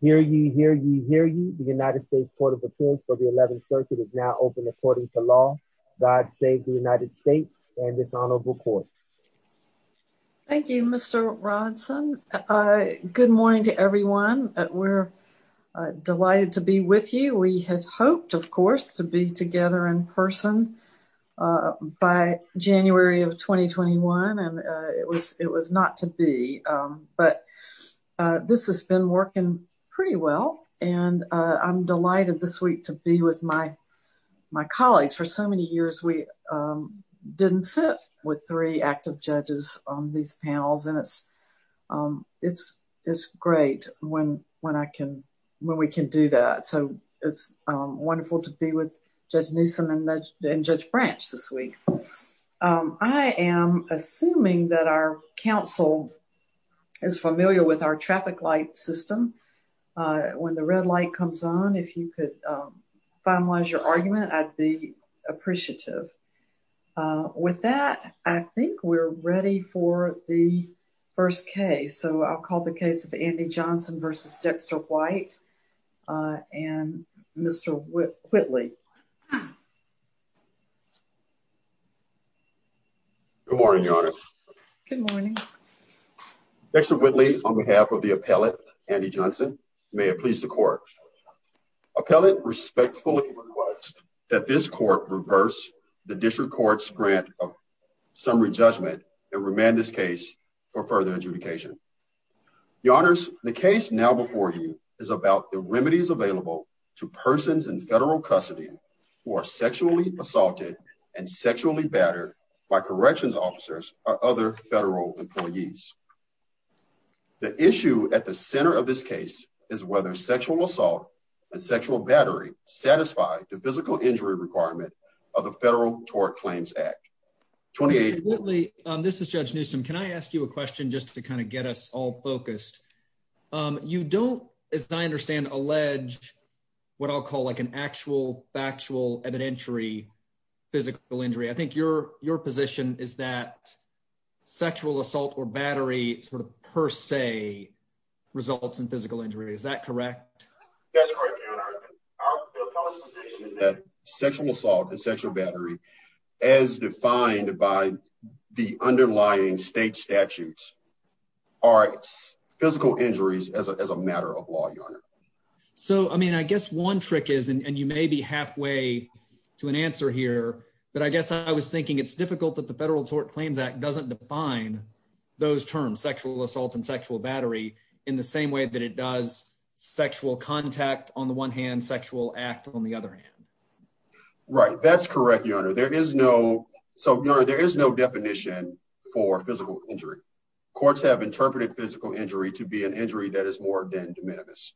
Hear you, hear you, hear you. The United States Court of Appeals for the 11th Circuit is now open according to law. God save the United States and this honorable court. Thank you, Mr. Rodson. Good morning to everyone. We're delighted to be with you. We had hoped, of course, to be together in person by January of 2021, and it was not to be. But this has been working pretty well, and I'm delighted this week to be with my colleagues. For so many years, we didn't sit with three active judges on these panels, and it's great when we can do that. So it's wonderful to be with Judge Newsom and Judge Branch this week. I am assuming that our counsel is familiar with our traffic light system. When the red light comes on, if you could finalize your argument, I'd be appreciative. With that, I think we're ready for the first case. So I'll call the case of Andy Johnson v. Dexter White and Mr. Whitley. Good morning, Your Honor. Good morning. Dexter Whitley, on behalf of the appellate, Andy Johnson, may it please the court. Appellate respectfully requests that this court reverse the district court's grant of summary judgment and remand this case for further adjudication. Your Honors, the case now before you is about the remedies available to persons in federal custody who are sexually assaulted and sexually battered by corrections officers or other federal employees. The issue at the center of this case is whether sexual assault and sexual battery satisfy the physical injury requirement of the Federal Tort Claims Act. Mr. Whitley, this is Judge Newsom. Can I ask you a question just to kind of get us all focused? You don't, as I understand, allege what I'll call like an actual factual evidentiary physical injury. I think your position is that sexual assault or battery sort of per se results in physical injury. Is that correct? That's correct, Your Honor. Our position is that sexual assault and sexual battery, as defined by the underlying state statutes, are physical injuries as a matter of law, Your Honor. So, I mean, I guess one trick is, and you may be halfway to an answer here, but I guess I was thinking it's difficult that the Federal Tort Claims Act doesn't define those terms, sexual assault and sexual battery, in the same way that it does sexual contact on the one hand, sexual act on the other hand. Right, that's correct, Your Honor. There is no definition for physical injury. Courts have interpreted physical injury to be an injury that is more than de minimis.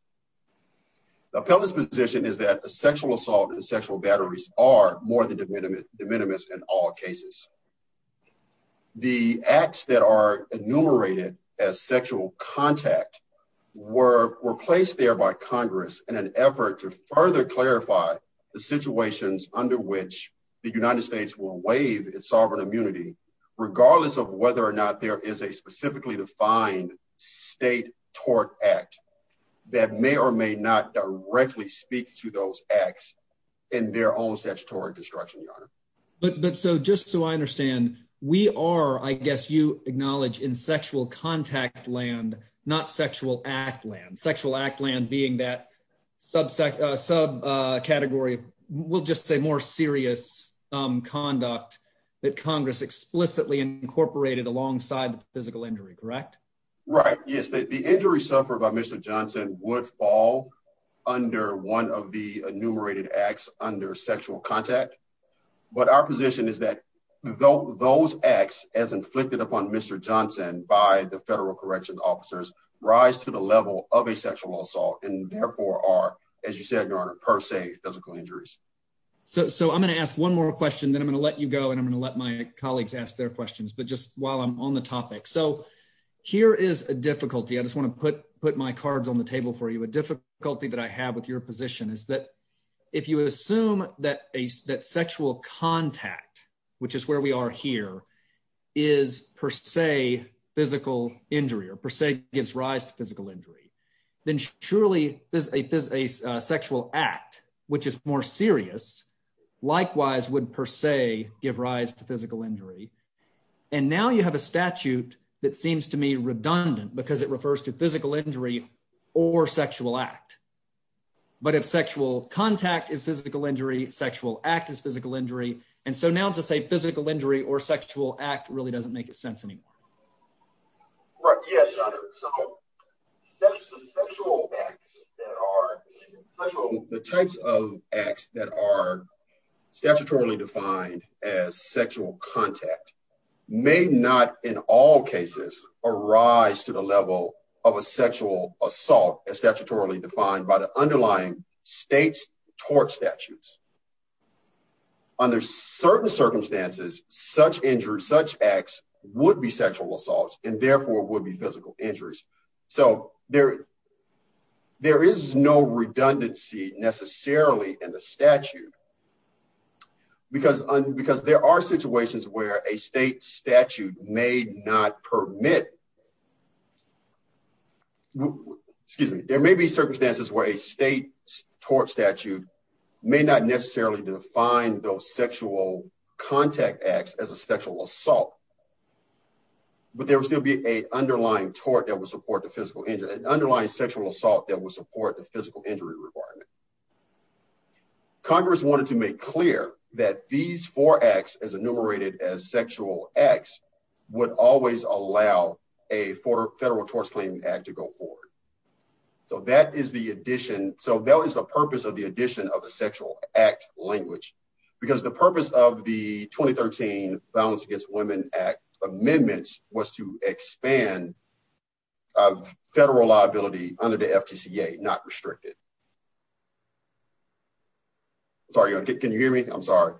The appellate's position is that sexual assault and sexual batteries are more than de minimis in all cases. The acts that are enumerated as sexual contact were placed there by Congress in an effort to further clarify the situations under which the United States will waive its sovereign immunity, regardless of whether or not there is a specifically defined state tort act that may or may not directly speak to those acts in their own statutory construction, Your Honor. But so, just so I understand, we are, I guess you in sexual contact land, not sexual act land, sexual act land being that subcategory, we'll just say more serious conduct that Congress explicitly incorporated alongside the physical injury, correct? Right, yes. The injury suffered by Mr. Johnson would fall under one of the enumerated acts under sexual contact, but our position is that those acts as inflicted upon Mr. Johnson by the federal correction officers rise to the level of a sexual assault and therefore are, as you said, Your Honor, per se physical injuries. So, I'm going to ask one more question then I'm going to let you go and I'm going to let my colleagues ask their questions, but just while I'm on the topic. So, here is a difficulty, I just want to put my cards on the table for you, a difficulty that I have with your position is that if you assume that sexual contact, which is where we are here, is per se physical injury or per se gives rise to physical injury, then surely a sexual act, which is more serious, likewise would per se give rise to physical injury. And now you have a statute that seems to me redundant because it refers to physical injury or sexual act. But if sexual contact is physical injury, sexual act is physical injury, and so now to say physical injury or sexual act really doesn't make sense anymore. Right, yes, Your Honor, so sexual acts that are, the types of acts that are statutorily defined as sexual contact may not in all cases arise to the level of a sexual assault as statutorily defined by the such injury, such acts would be sexual assaults and therefore would be physical injuries. So, there is no redundancy necessarily in the statute because there are situations where a state statute may not permit, excuse me, there may be circumstances where a state tort statute may not necessarily define those sexual contact acts as a sexual assault, but there would still be an underlying tort that would support the physical injury, an underlying sexual assault that would support the physical injury requirement. Congress wanted to make clear that these four acts as enumerated as sexual acts would always allow a federal torts claim act to go forward. So, that is the addition, so that the purpose of the 2013 Violence Against Women Act amendments was to expand federal liability under the FTCA, not restrict it. Sorry, can you hear me? I'm sorry.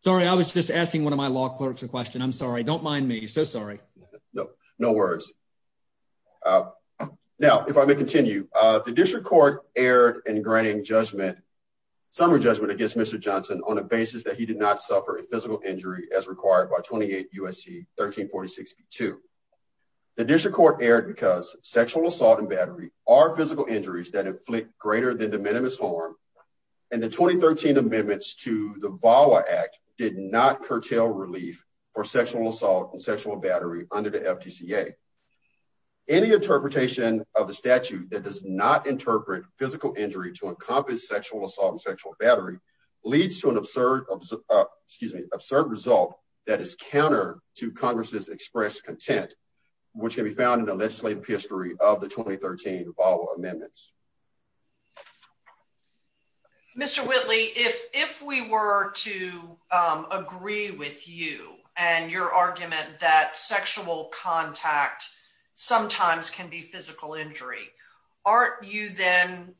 Sorry, I was just asking one of my law clerks a question. I'm sorry, don't mind me, so sorry. No, no worries. Now, if I may continue, the district court erred in granting judgment, summary judgment against Mr. Johnson on a basis that he did not suffer a physical injury as required by 28 U.S.C. 1346-2. The district court erred because sexual assault and battery are physical injuries that inflict greater than de minimis harm and the 2013 amendments to the VAWA Act did not curtail relief for sexual assault and sexual battery under the FTCA. Any interpretation of the statute that does not interpret physical injury to encompass sexual assault and sexual battery leads to an absurd, excuse me, absurd result that is counter to Congress's express content, which can be found in the legislative history of the 2013 VAWA amendments. Mr. Whitley, if we were to agree with you and your argument that sexual contact sometimes can be physical injury, aren't you then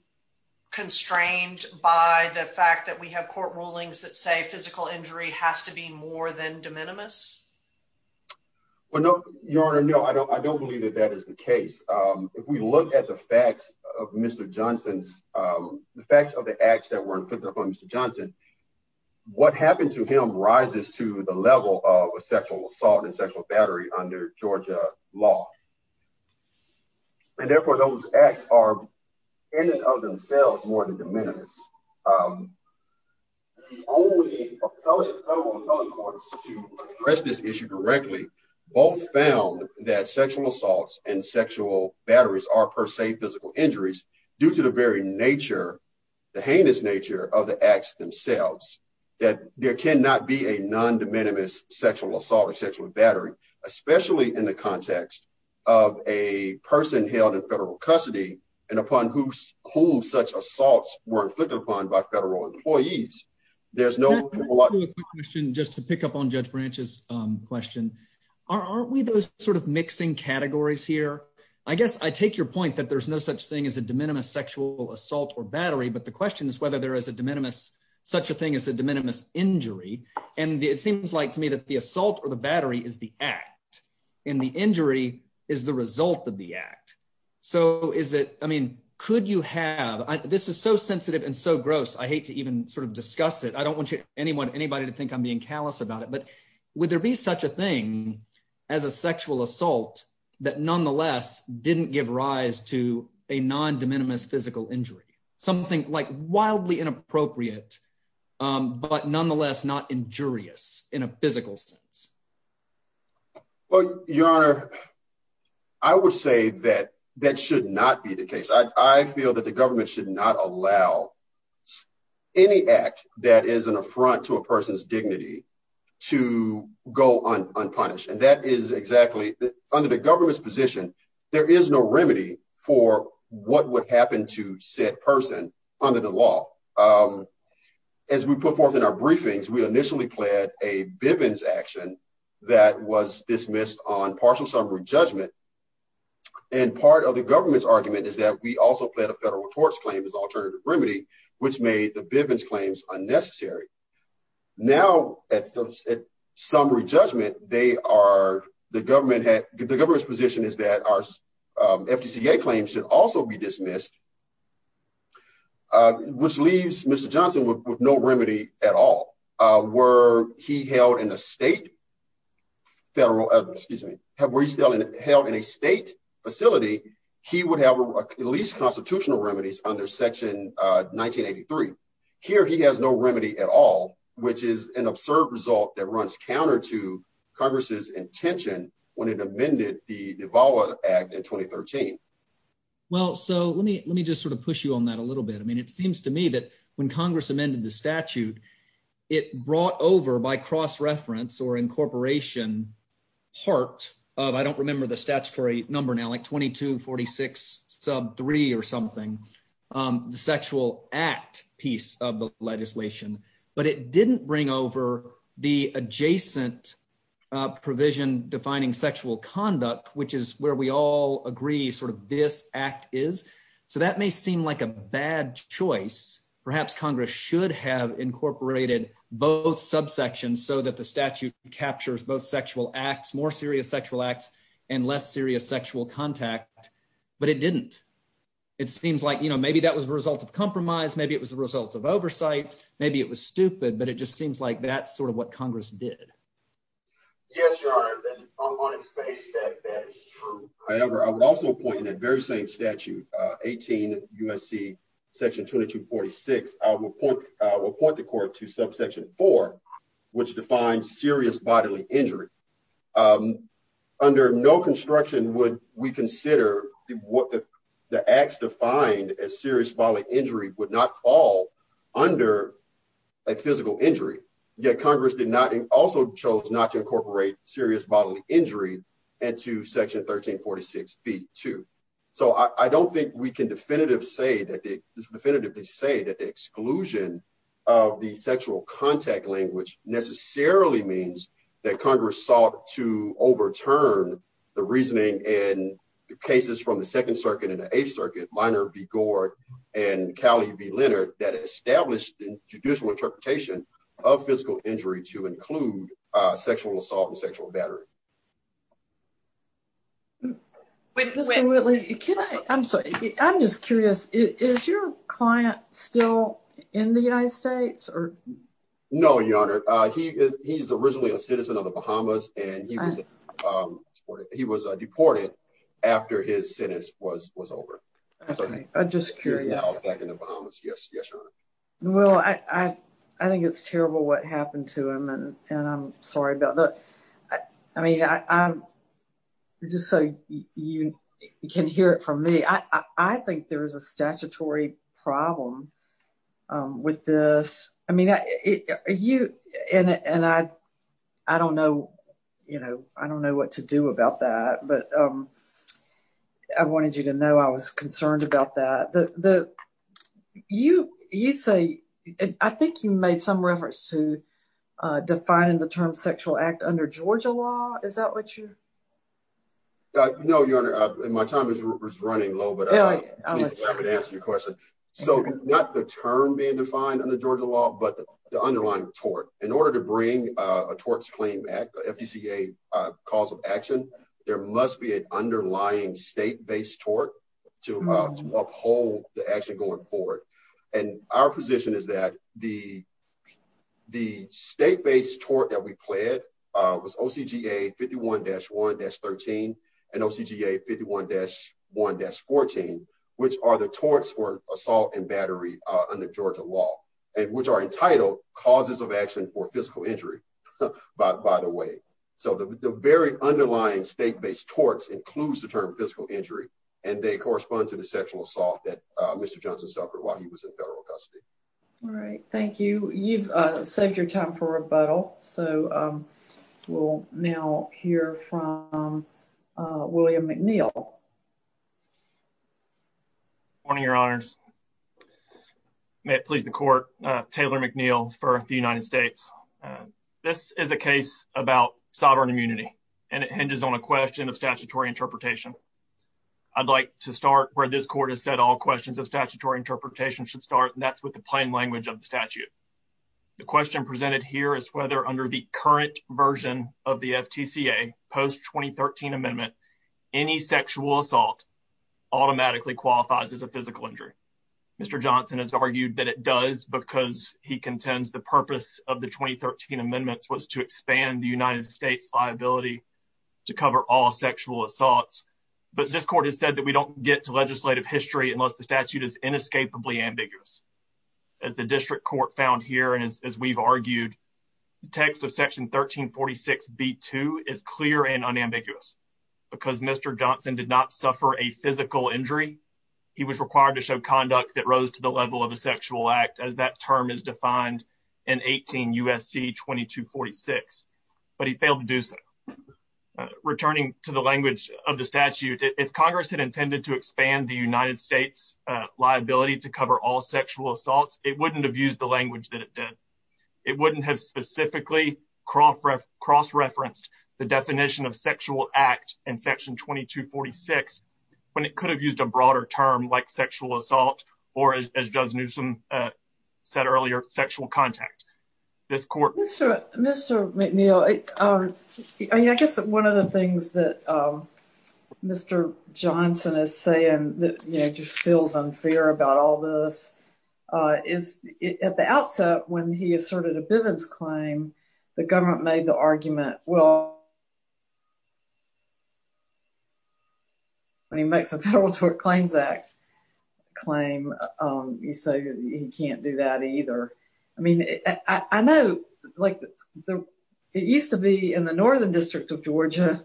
constrained by the fact that we have court rulings that say physical injury has to be more than de minimis? Well, no, Your Honor, no, I don't believe that is the case. If we look at the facts of Mr. Johnson, the facts of the acts that were inflicted upon Mr. Johnson, what happened to him rises to the level of sexual assault and sexual battery under Georgia law. And therefore, those acts are in and of themselves more than de minimis. The only federal appellate courts to address this issue directly both found that sexual assaults and sexual batteries are per se physical injuries due to the very nature, the heinous nature of the acts themselves, that there cannot be a non-de minimis sexual assault or sexual battery, especially in the context of a person held in federal custody and upon whom such assaults were inflicted upon by federal employees. Let me ask you a quick question just to pick up on Judge Branch's question. Aren't we those sort of mixing categories here? I guess I take your point that there's no such thing as a de minimis sexual assault or battery, but the question is whether there is a de minimis, such a thing as a de minimis injury. And it seems like to me that the assault or the battery is the act, and the injury is the result of the act. So is it, I mean, could you have, this is so sensitive and so gross, I hate to even sort of discuss it. I don't want anybody to think I'm being callous about it, but would there be such a thing as a sexual assault that nonetheless didn't give rise to a non-de minimis physical injury? Something like wildly inappropriate, but nonetheless not injurious in a physical sense. Well, your honor, I would say that that should not be the case. I feel that the government should not allow any act that is an affront to a person's dignity to go unpunished. And that is exactly, under the government's position, there is no remedy for what would happen to said person under the law. As we put forth in our briefings, we initially pled a Bivens action that was dismissed on partial summary judgment. And part of the government's argument is that we also pled a federal torts claim as alternative remedy, which made the Bivens claims unnecessary. Now at summary judgment, they are, the government's position is that our which leaves Mr. Johnson with no remedy at all. Were he held in a state, federal, excuse me, where he's held in a state facility, he would have at least constitutional remedies under section 1983. Here he has no remedy at all, which is an absurd result that runs counter to Congress's intention when it amended the Davao Act in 2013. Well, so let me just sort of push you on that a little bit. I mean, it seems to me that when Congress amended the statute, it brought over by cross-reference or incorporation part of, I don't remember the statutory number now, like 2246 sub three or something, the sexual act piece of the legislation. But it didn't bring over the adjacent provision defining sexual conduct, which is where we all agree sort of this act is. So that may seem like a bad choice. Perhaps Congress should have incorporated both subsections so that the statute captures both sexual acts, more serious sexual acts and less serious sexual contact. But it didn't. It seems like, you know, maybe that was a result of compromise. Maybe it was a result of oversight. Maybe it was stupid, but it just seems like that's sort of what Congress did. Yes, Your Honor, I'm on its face that that is true. However, I would also point in that very same statute, 18 U.S.C. section 2246, I will point the court to subsection four, which defines serious bodily injury. Under no construction would we consider the acts defined as serious bodily would not fall under a physical injury. Yet Congress did not also chose not to incorporate serious bodily injury and to section 1346 B2. So I don't think we can definitively say that the definitively say that the exclusion of the sexual contact language necessarily means that Congress sought to overturn the reasoning and the cases from the Second Circuit and the Minor v. Gord and Cowley v. Leonard that established the judicial interpretation of physical injury to include sexual assault and sexual battery. Mr. Whitley, can I, I'm sorry, I'm just curious, is your client still in the United States or? No, Your Honor, he is, he's originally a citizen of the Bahamas and he was, he was deported after his sentence was, was over. I'm sorry, I'm just curious. Well, I, I think it's terrible what happened to him and, and I'm sorry about that. I mean, I, I'm just so you can hear it from me. I, I think there is a statutory problem with this. I mean, you, and, and I, I don't know, you know, I don't know what to do about that, but I wanted you to know I was concerned about that. The, the, you, you say, I think you made some reference to defining the term sexual act under Georgia law. Is that what you? No, Your Honor, my time is running low, but I would answer your question. So not the term being but the underlying tort. In order to bring a torts claim back, FDCA cause of action, there must be an underlying state-based tort to uphold the action going forward. And our position is that the, the state-based tort that we pled was OCGA 51-1-13 and OCGA 51-1-14, which are the causes of action for physical injury by the way. So the very underlying state-based torts includes the term physical injury and they correspond to the sexual assault that Mr. Johnson suffered while he was in federal custody. All right. Thank you. You've saved your time for rebuttal. So we'll now hear from William McNeil. Good morning, Your Honors. May it please the court, Taylor McNeil for the United States. This is a case about sovereign immunity and it hinges on a question of statutory interpretation. I'd like to start where this court has said all questions of statutory interpretation should start and that's with the plain language of the statute. The question presented here is whether under the current version of the FTCA post 2013 amendment, any sexual assault automatically qualifies as a physical injury. Mr. Johnson has argued that it does because he contends the purpose of the 2013 amendments was to expand the United States liability to cover all sexual assaults. But this court has said that we don't get to legislative history unless the statute is amended. The context of section 1346 B2 is clear and unambiguous because Mr. Johnson did not suffer a physical injury. He was required to show conduct that rose to the level of a sexual act as that term is defined in 18 U.S.C. 2246. But he failed to do so. Returning to the language of the statute, if Congress had intended to expand the United States liability to cover all sexual assaults, wouldn't have used the language that it did. It wouldn't have specifically cross referenced the definition of sexual act in section 2246 when it could have used a broader term like sexual assault or as Judge Newsom said earlier, sexual contact. This court... Mr. McNeil, I guess one of the things that Mr. Johnson is saying that, you know, just feels unfair about all this is at the outset when he asserted a Bivens claim, the government made the argument, well, when he makes a Federal Tort Claims Act claim, you say he can't do that either. I mean, I know like it used to be in the Northern District of Georgia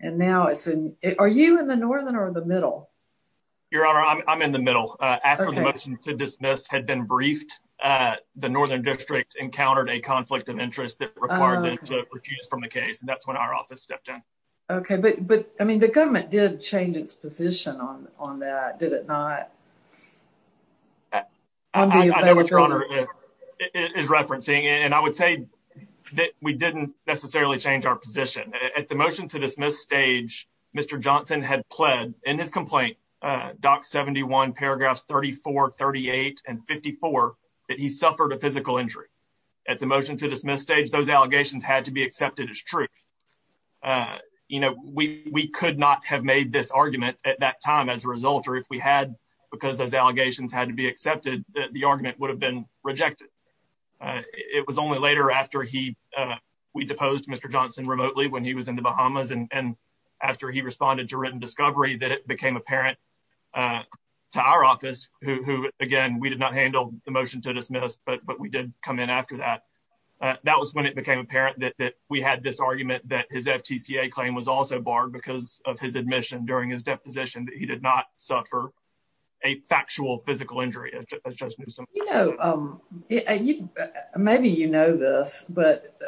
and now it's in... Are you in the Northern or the Middle? Your Honor, I'm in the Middle. After the motion to dismiss had been briefed, the Northern District encountered a conflict of interest that required them to refuse from the case and that's when our office stepped in. Okay, but I mean the government did change its that we didn't necessarily change our position. At the motion to dismiss stage, Mr. Johnson had pled in his complaint, Doc 71 paragraphs 34, 38, and 54 that he suffered a physical injury. At the motion to dismiss stage, those allegations had to be accepted as truth. You know, we could not have made this argument at that time as a result or if we had because those allegations had to be accepted, the argument would have been rejected. It was only after we deposed Mr. Johnson remotely when he was in the Bahamas and after he responded to written discovery that it became apparent to our office, who again, we did not handle the motion to dismiss, but we did come in after that. That was when it became apparent that we had this argument that his FTCA claim was also barred because of his admission during his deposition that he did not suffer a factual physical injury. You know, maybe you know this, but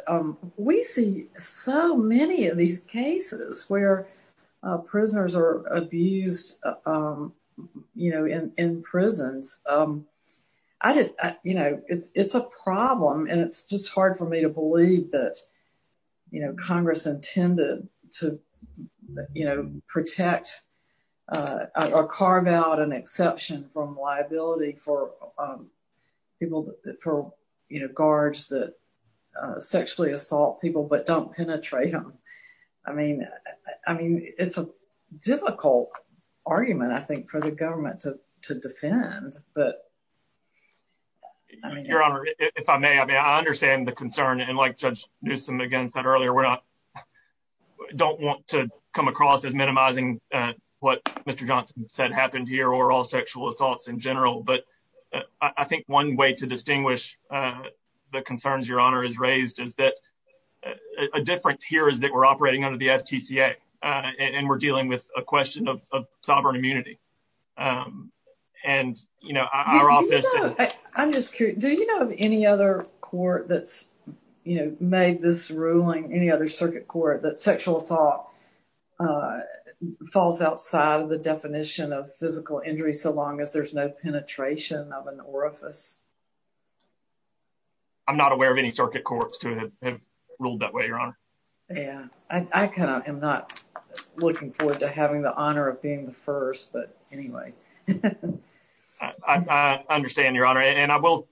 we see so many of these cases where prisoners are abused in prisons. It's a problem and it's just hard for me to believe that Congress intended to protect or carve out an exception from liability for people, for guards that sexually assault people but don't penetrate them. I mean, it's a difficult argument, I think, for the government to defend, but I mean, your honor, if I may, I mean, I understand the concern and like Judge Newsom again said earlier, we're not, don't want to come across as minimizing what Mr. Johnson said happened here or all sexual assaults in general, but I think one way to distinguish the concerns your honor has raised is that a difference here is that we're operating under the FTCA and we're dealing with a question of sovereign immunity and, you know, our office. I'm just curious, do you know of any other court that's, you know, made this ruling, any other circuit court that sexual assault falls outside of the definition of physical injury so long as there's no penetration of an orifice? I'm not aware of any circuit courts to have ruled that way, your honor. Yeah, I kind of am not looking forward to having the honor of being the first, but anyway. I understand, your honor, and I will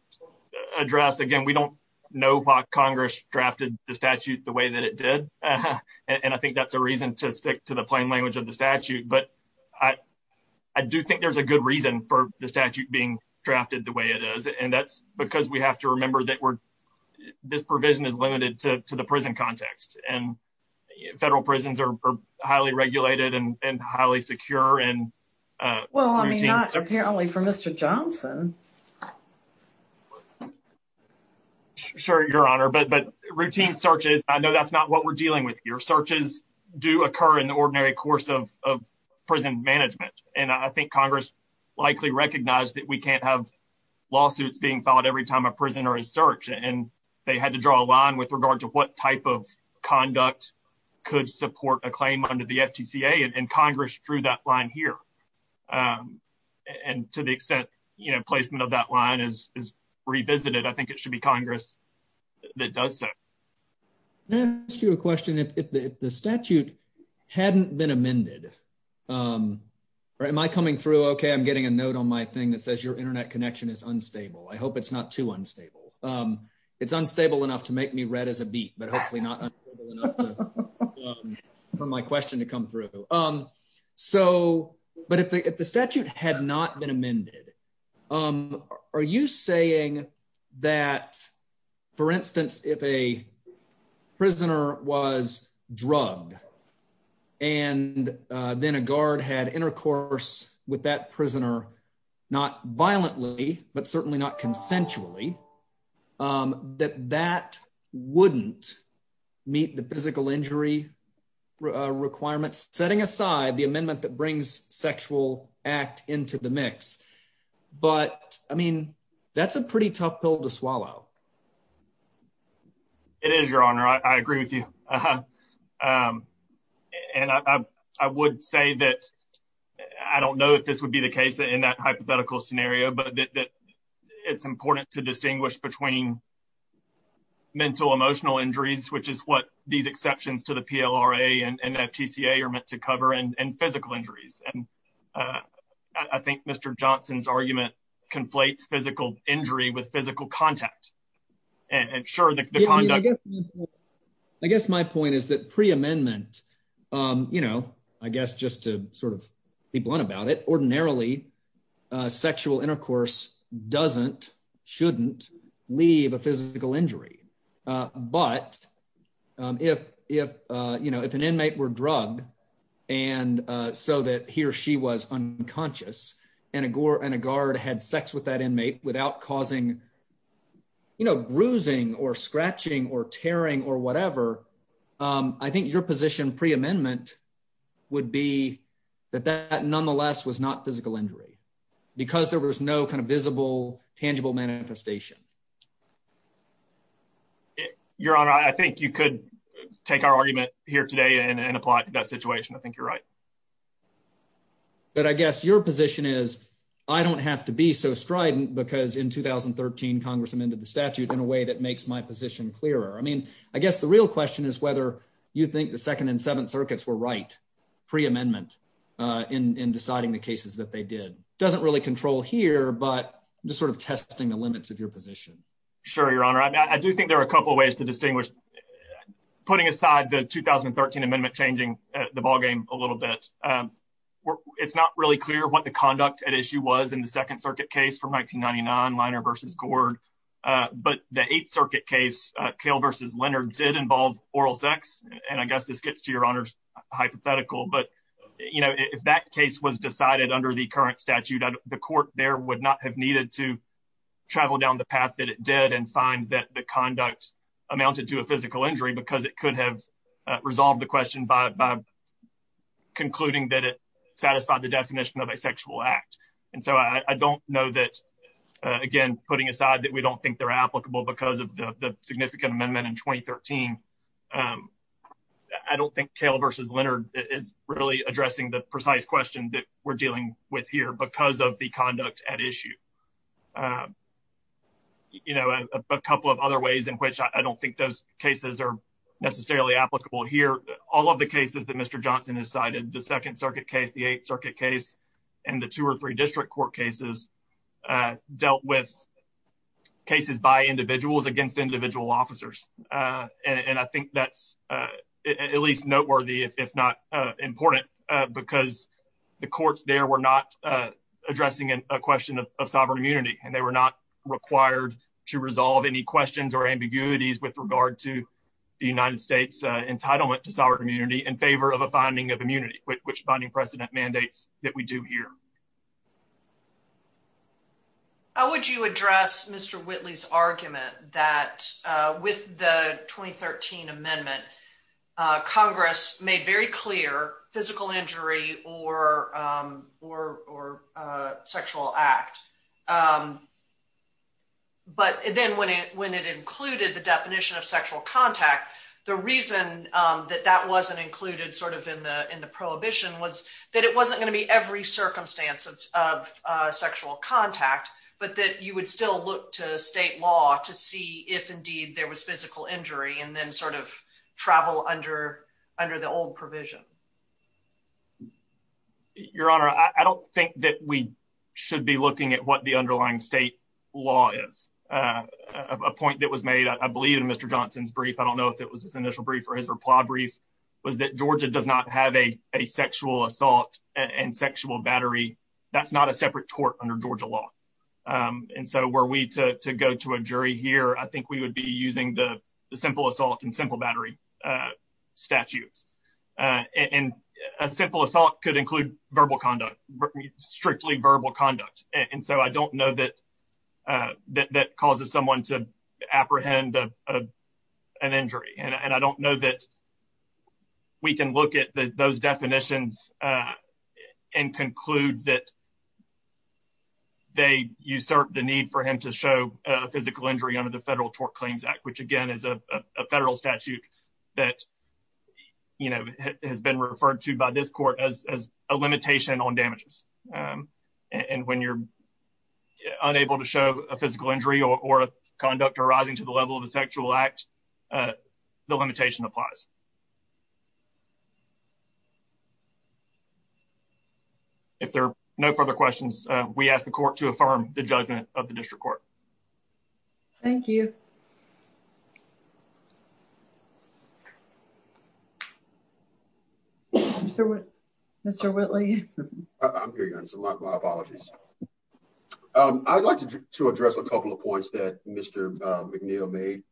address again, we don't know why Congress drafted the statute the way that it did, and I think that's a reason to stick to the plain language of the statute, but I do think there's a good reason for the statute being drafted the way it is, and that's because we have to remember that we're, this provision is limited to the prison context, and federal prisons are highly regulated and highly secure. Well, I mean, not apparently for Mr. Johnson. Sure, your honor, but routine searches, I know that's not what we're dealing with here. Searches do occur in the ordinary course of prison management, and I think Congress likely recognized that we can't have lawsuits being filed every time a prisoner is searched, and had to draw a line with regard to what type of conduct could support a claim under the FTCA, and Congress drew that line here, and to the extent, you know, placement of that line is revisited, I think it should be Congress that does so. Can I ask you a question? If the statute hadn't been amended, am I coming through okay? I'm getting a note on my thing that says your internet connection is unstable. I hope it's not too unstable enough to make me red as a beet, but hopefully not for my question to come through. So, but if the statute had not been amended, are you saying that, for instance, if a prisoner was drugged, and then a guard had intercourse with that prisoner, not violently, but certainly not consensually, that that wouldn't meet the physical injury requirements, setting aside the amendment that brings sexual act into the mix, but, I mean, that's a pretty tough pill to swallow. It is, your honor, I agree with you, and I would say that I don't know if this would be the case in that hypothetical scenario, but that it's important to distinguish between mental emotional injuries, which is what these exceptions to the PLRA and FTCA are meant to cover, and physical injuries, and I think Mr. Johnson's argument conflates physical injury with physical contact, and sure, the conduct. I guess my point is that pre-amendment, you know, I guess just to sort of be blunt about it, ordinarily, sexual intercourse doesn't, shouldn't leave a physical injury, but if, you know, if an inmate were drugged, and so that he or she was unconscious, and a guard had sex with that inmate without causing, you know, bruising, or scratching, or tearing, or whatever, I think your position pre-amendment would be that that nonetheless was not physical injury, because there was no kind of visible, tangible manifestation. Your honor, I think you could take our argument here today, and apply it to that situation. I think you're right, but I guess your position is I don't have to be so strident, because in 2013, Congress amended the statute in a way that makes my position clearer. I mean, I guess the real question is whether you think the Second and Seventh Circuits were right pre-amendment in deciding the cases that they did. Doesn't really control here, but just sort of testing the limits of your position. Sure, your honor. I do think there are a couple ways to distinguish, putting aside the 2013 amendment changing the ballgame a little bit, it's not really clear what the conduct at issue was in the Second Circuit case from 1999, versus Gord. But the Eighth Circuit case, Kale versus Leonard, did involve oral sex, and I guess this gets to your honor's hypothetical, but you know, if that case was decided under the current statute, the court there would not have needed to travel down the path that it did, and find that the conduct amounted to a physical injury, because it could have resolved the question by concluding that it satisfied the definition of a sexual act. And so, I don't know that, again, putting aside that we don't think they're applicable because of the significant amendment in 2013, I don't think Kale versus Leonard is really addressing the precise question that we're dealing with here, because of the conduct at issue. You know, a couple of other ways in which I don't think those cases are necessarily applicable here, all of the cases that Mr. Johnson has cited, the Second Circuit case, the Eighth Circuit case, and the two or three district court cases, dealt with cases by individuals against individual officers. And I think that's at least noteworthy, if not important, because the courts there were not addressing a question of sovereign immunity, and they were not required to resolve any questions or ambiguities with regard to the United States entitlement to sovereign immunity in favor of a president mandates that we do here. How would you address Mr. Whitley's argument that with the 2013 amendment, Congress made very clear physical injury or sexual act, but then when it included the definition of sexual contact, the reason that that wasn't included sort of in the prohibition was that it wasn't going to be every circumstance of sexual contact, but that you would still look to state law to see if indeed there was physical injury and then sort of travel under the old provision. Your Honor, I don't think that we should be looking at what the underlying state law is. A point that was made, I believe in Mr. Johnson's brief, I don't know if it was and sexual battery. That's not a separate court under Georgia law. And so were we to go to a jury here, I think we would be using the simple assault and simple battery statutes. And a simple assault could include verbal conduct, strictly verbal conduct. And so I don't know that causes someone to apprehend an injury. And I don't know that we can look at those definitions and conclude that they usurp the need for him to show a physical injury under the Federal Tort Claims Act, which again is a federal statute that has been referred to by this court as a limitation on conduct arising to the level of a sexual act. The limitation applies. If there are no further questions, we ask the court to affirm the judgment of the district court. Thank you. Mr. Whitley. I'm here. My apologies. I'd like to address a couple of points that McNeil made.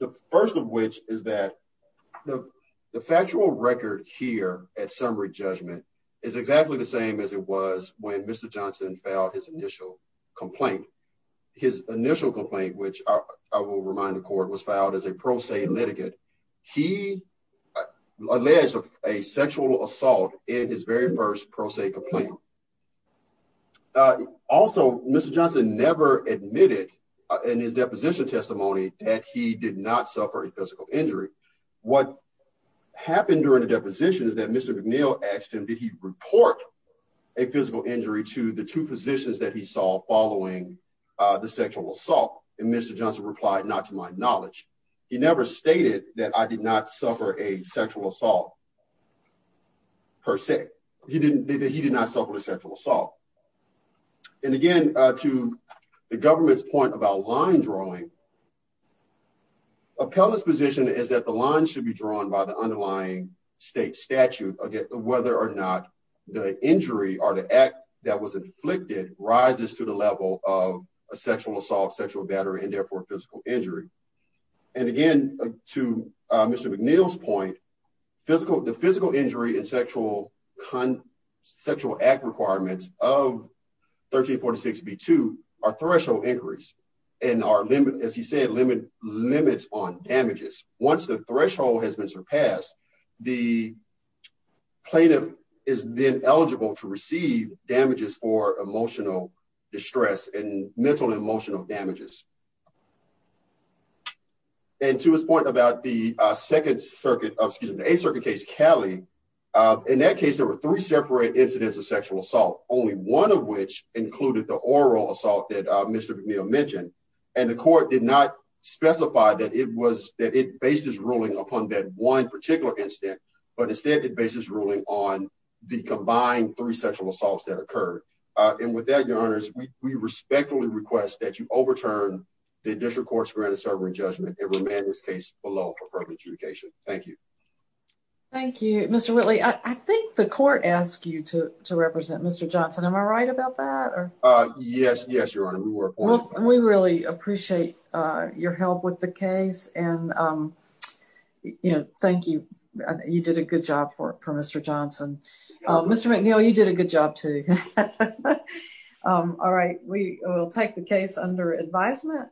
The first of which is that the factual record here at summary judgment is exactly the same as it was when Mr. Johnson filed his initial complaint. His initial complaint, which I will remind the court was filed as a pro se litigate. He alleged a sexual assault in his very first pro se complaint. Also, Mr. Johnson never admitted in his deposition testimony that he did not suffer a physical injury. What happened during the deposition is that Mr. McNeil asked him, did he report a physical injury to the two physicians that he saw following the sexual assault? And Mr. Johnson replied, not to my knowledge. He never stated that I did not suffer a sexual assault per se. He did not suffer a sexual assault. And again, to the government's point about line drawing, appellate's position is that the line should be drawn by the underlying state statute whether or not the injury or the act that was inflicted rises to the level of a sexual assault, sexual battery, and therefore physical injury. And again, to Mr. McNeil's point, the physical injury and sexual act requirements of 1346B2 are threshold inquiries and are, as he said, limits on damages. Once the threshold has been surpassed, the plaintiff is then eligible to receive the damages. And to his point about the Second Circuit, excuse me, the Eighth Circuit case, Cali, in that case, there were three separate incidents of sexual assault, only one of which included the oral assault that Mr. McNeil mentioned. And the court did not specify that it was, that it bases ruling upon that one particular incident, but instead it bases ruling on the combined three sexual assaults that occurred. And with that, your honors, we respectfully request that you overturn the District Court's granted sovereign judgment and remand this case below for further adjudication. Thank you. Thank you. Mr. Whitley, I think the court asked you to represent Mr. Johnson. Am I right about that? Yes, yes, your honor. We were appointed. We really appreciate your help with the case and, you know, thank you. You did a good job for Mr. Johnson. Mr. McNeil, you did a good job too. All right, we will take the case under advisement.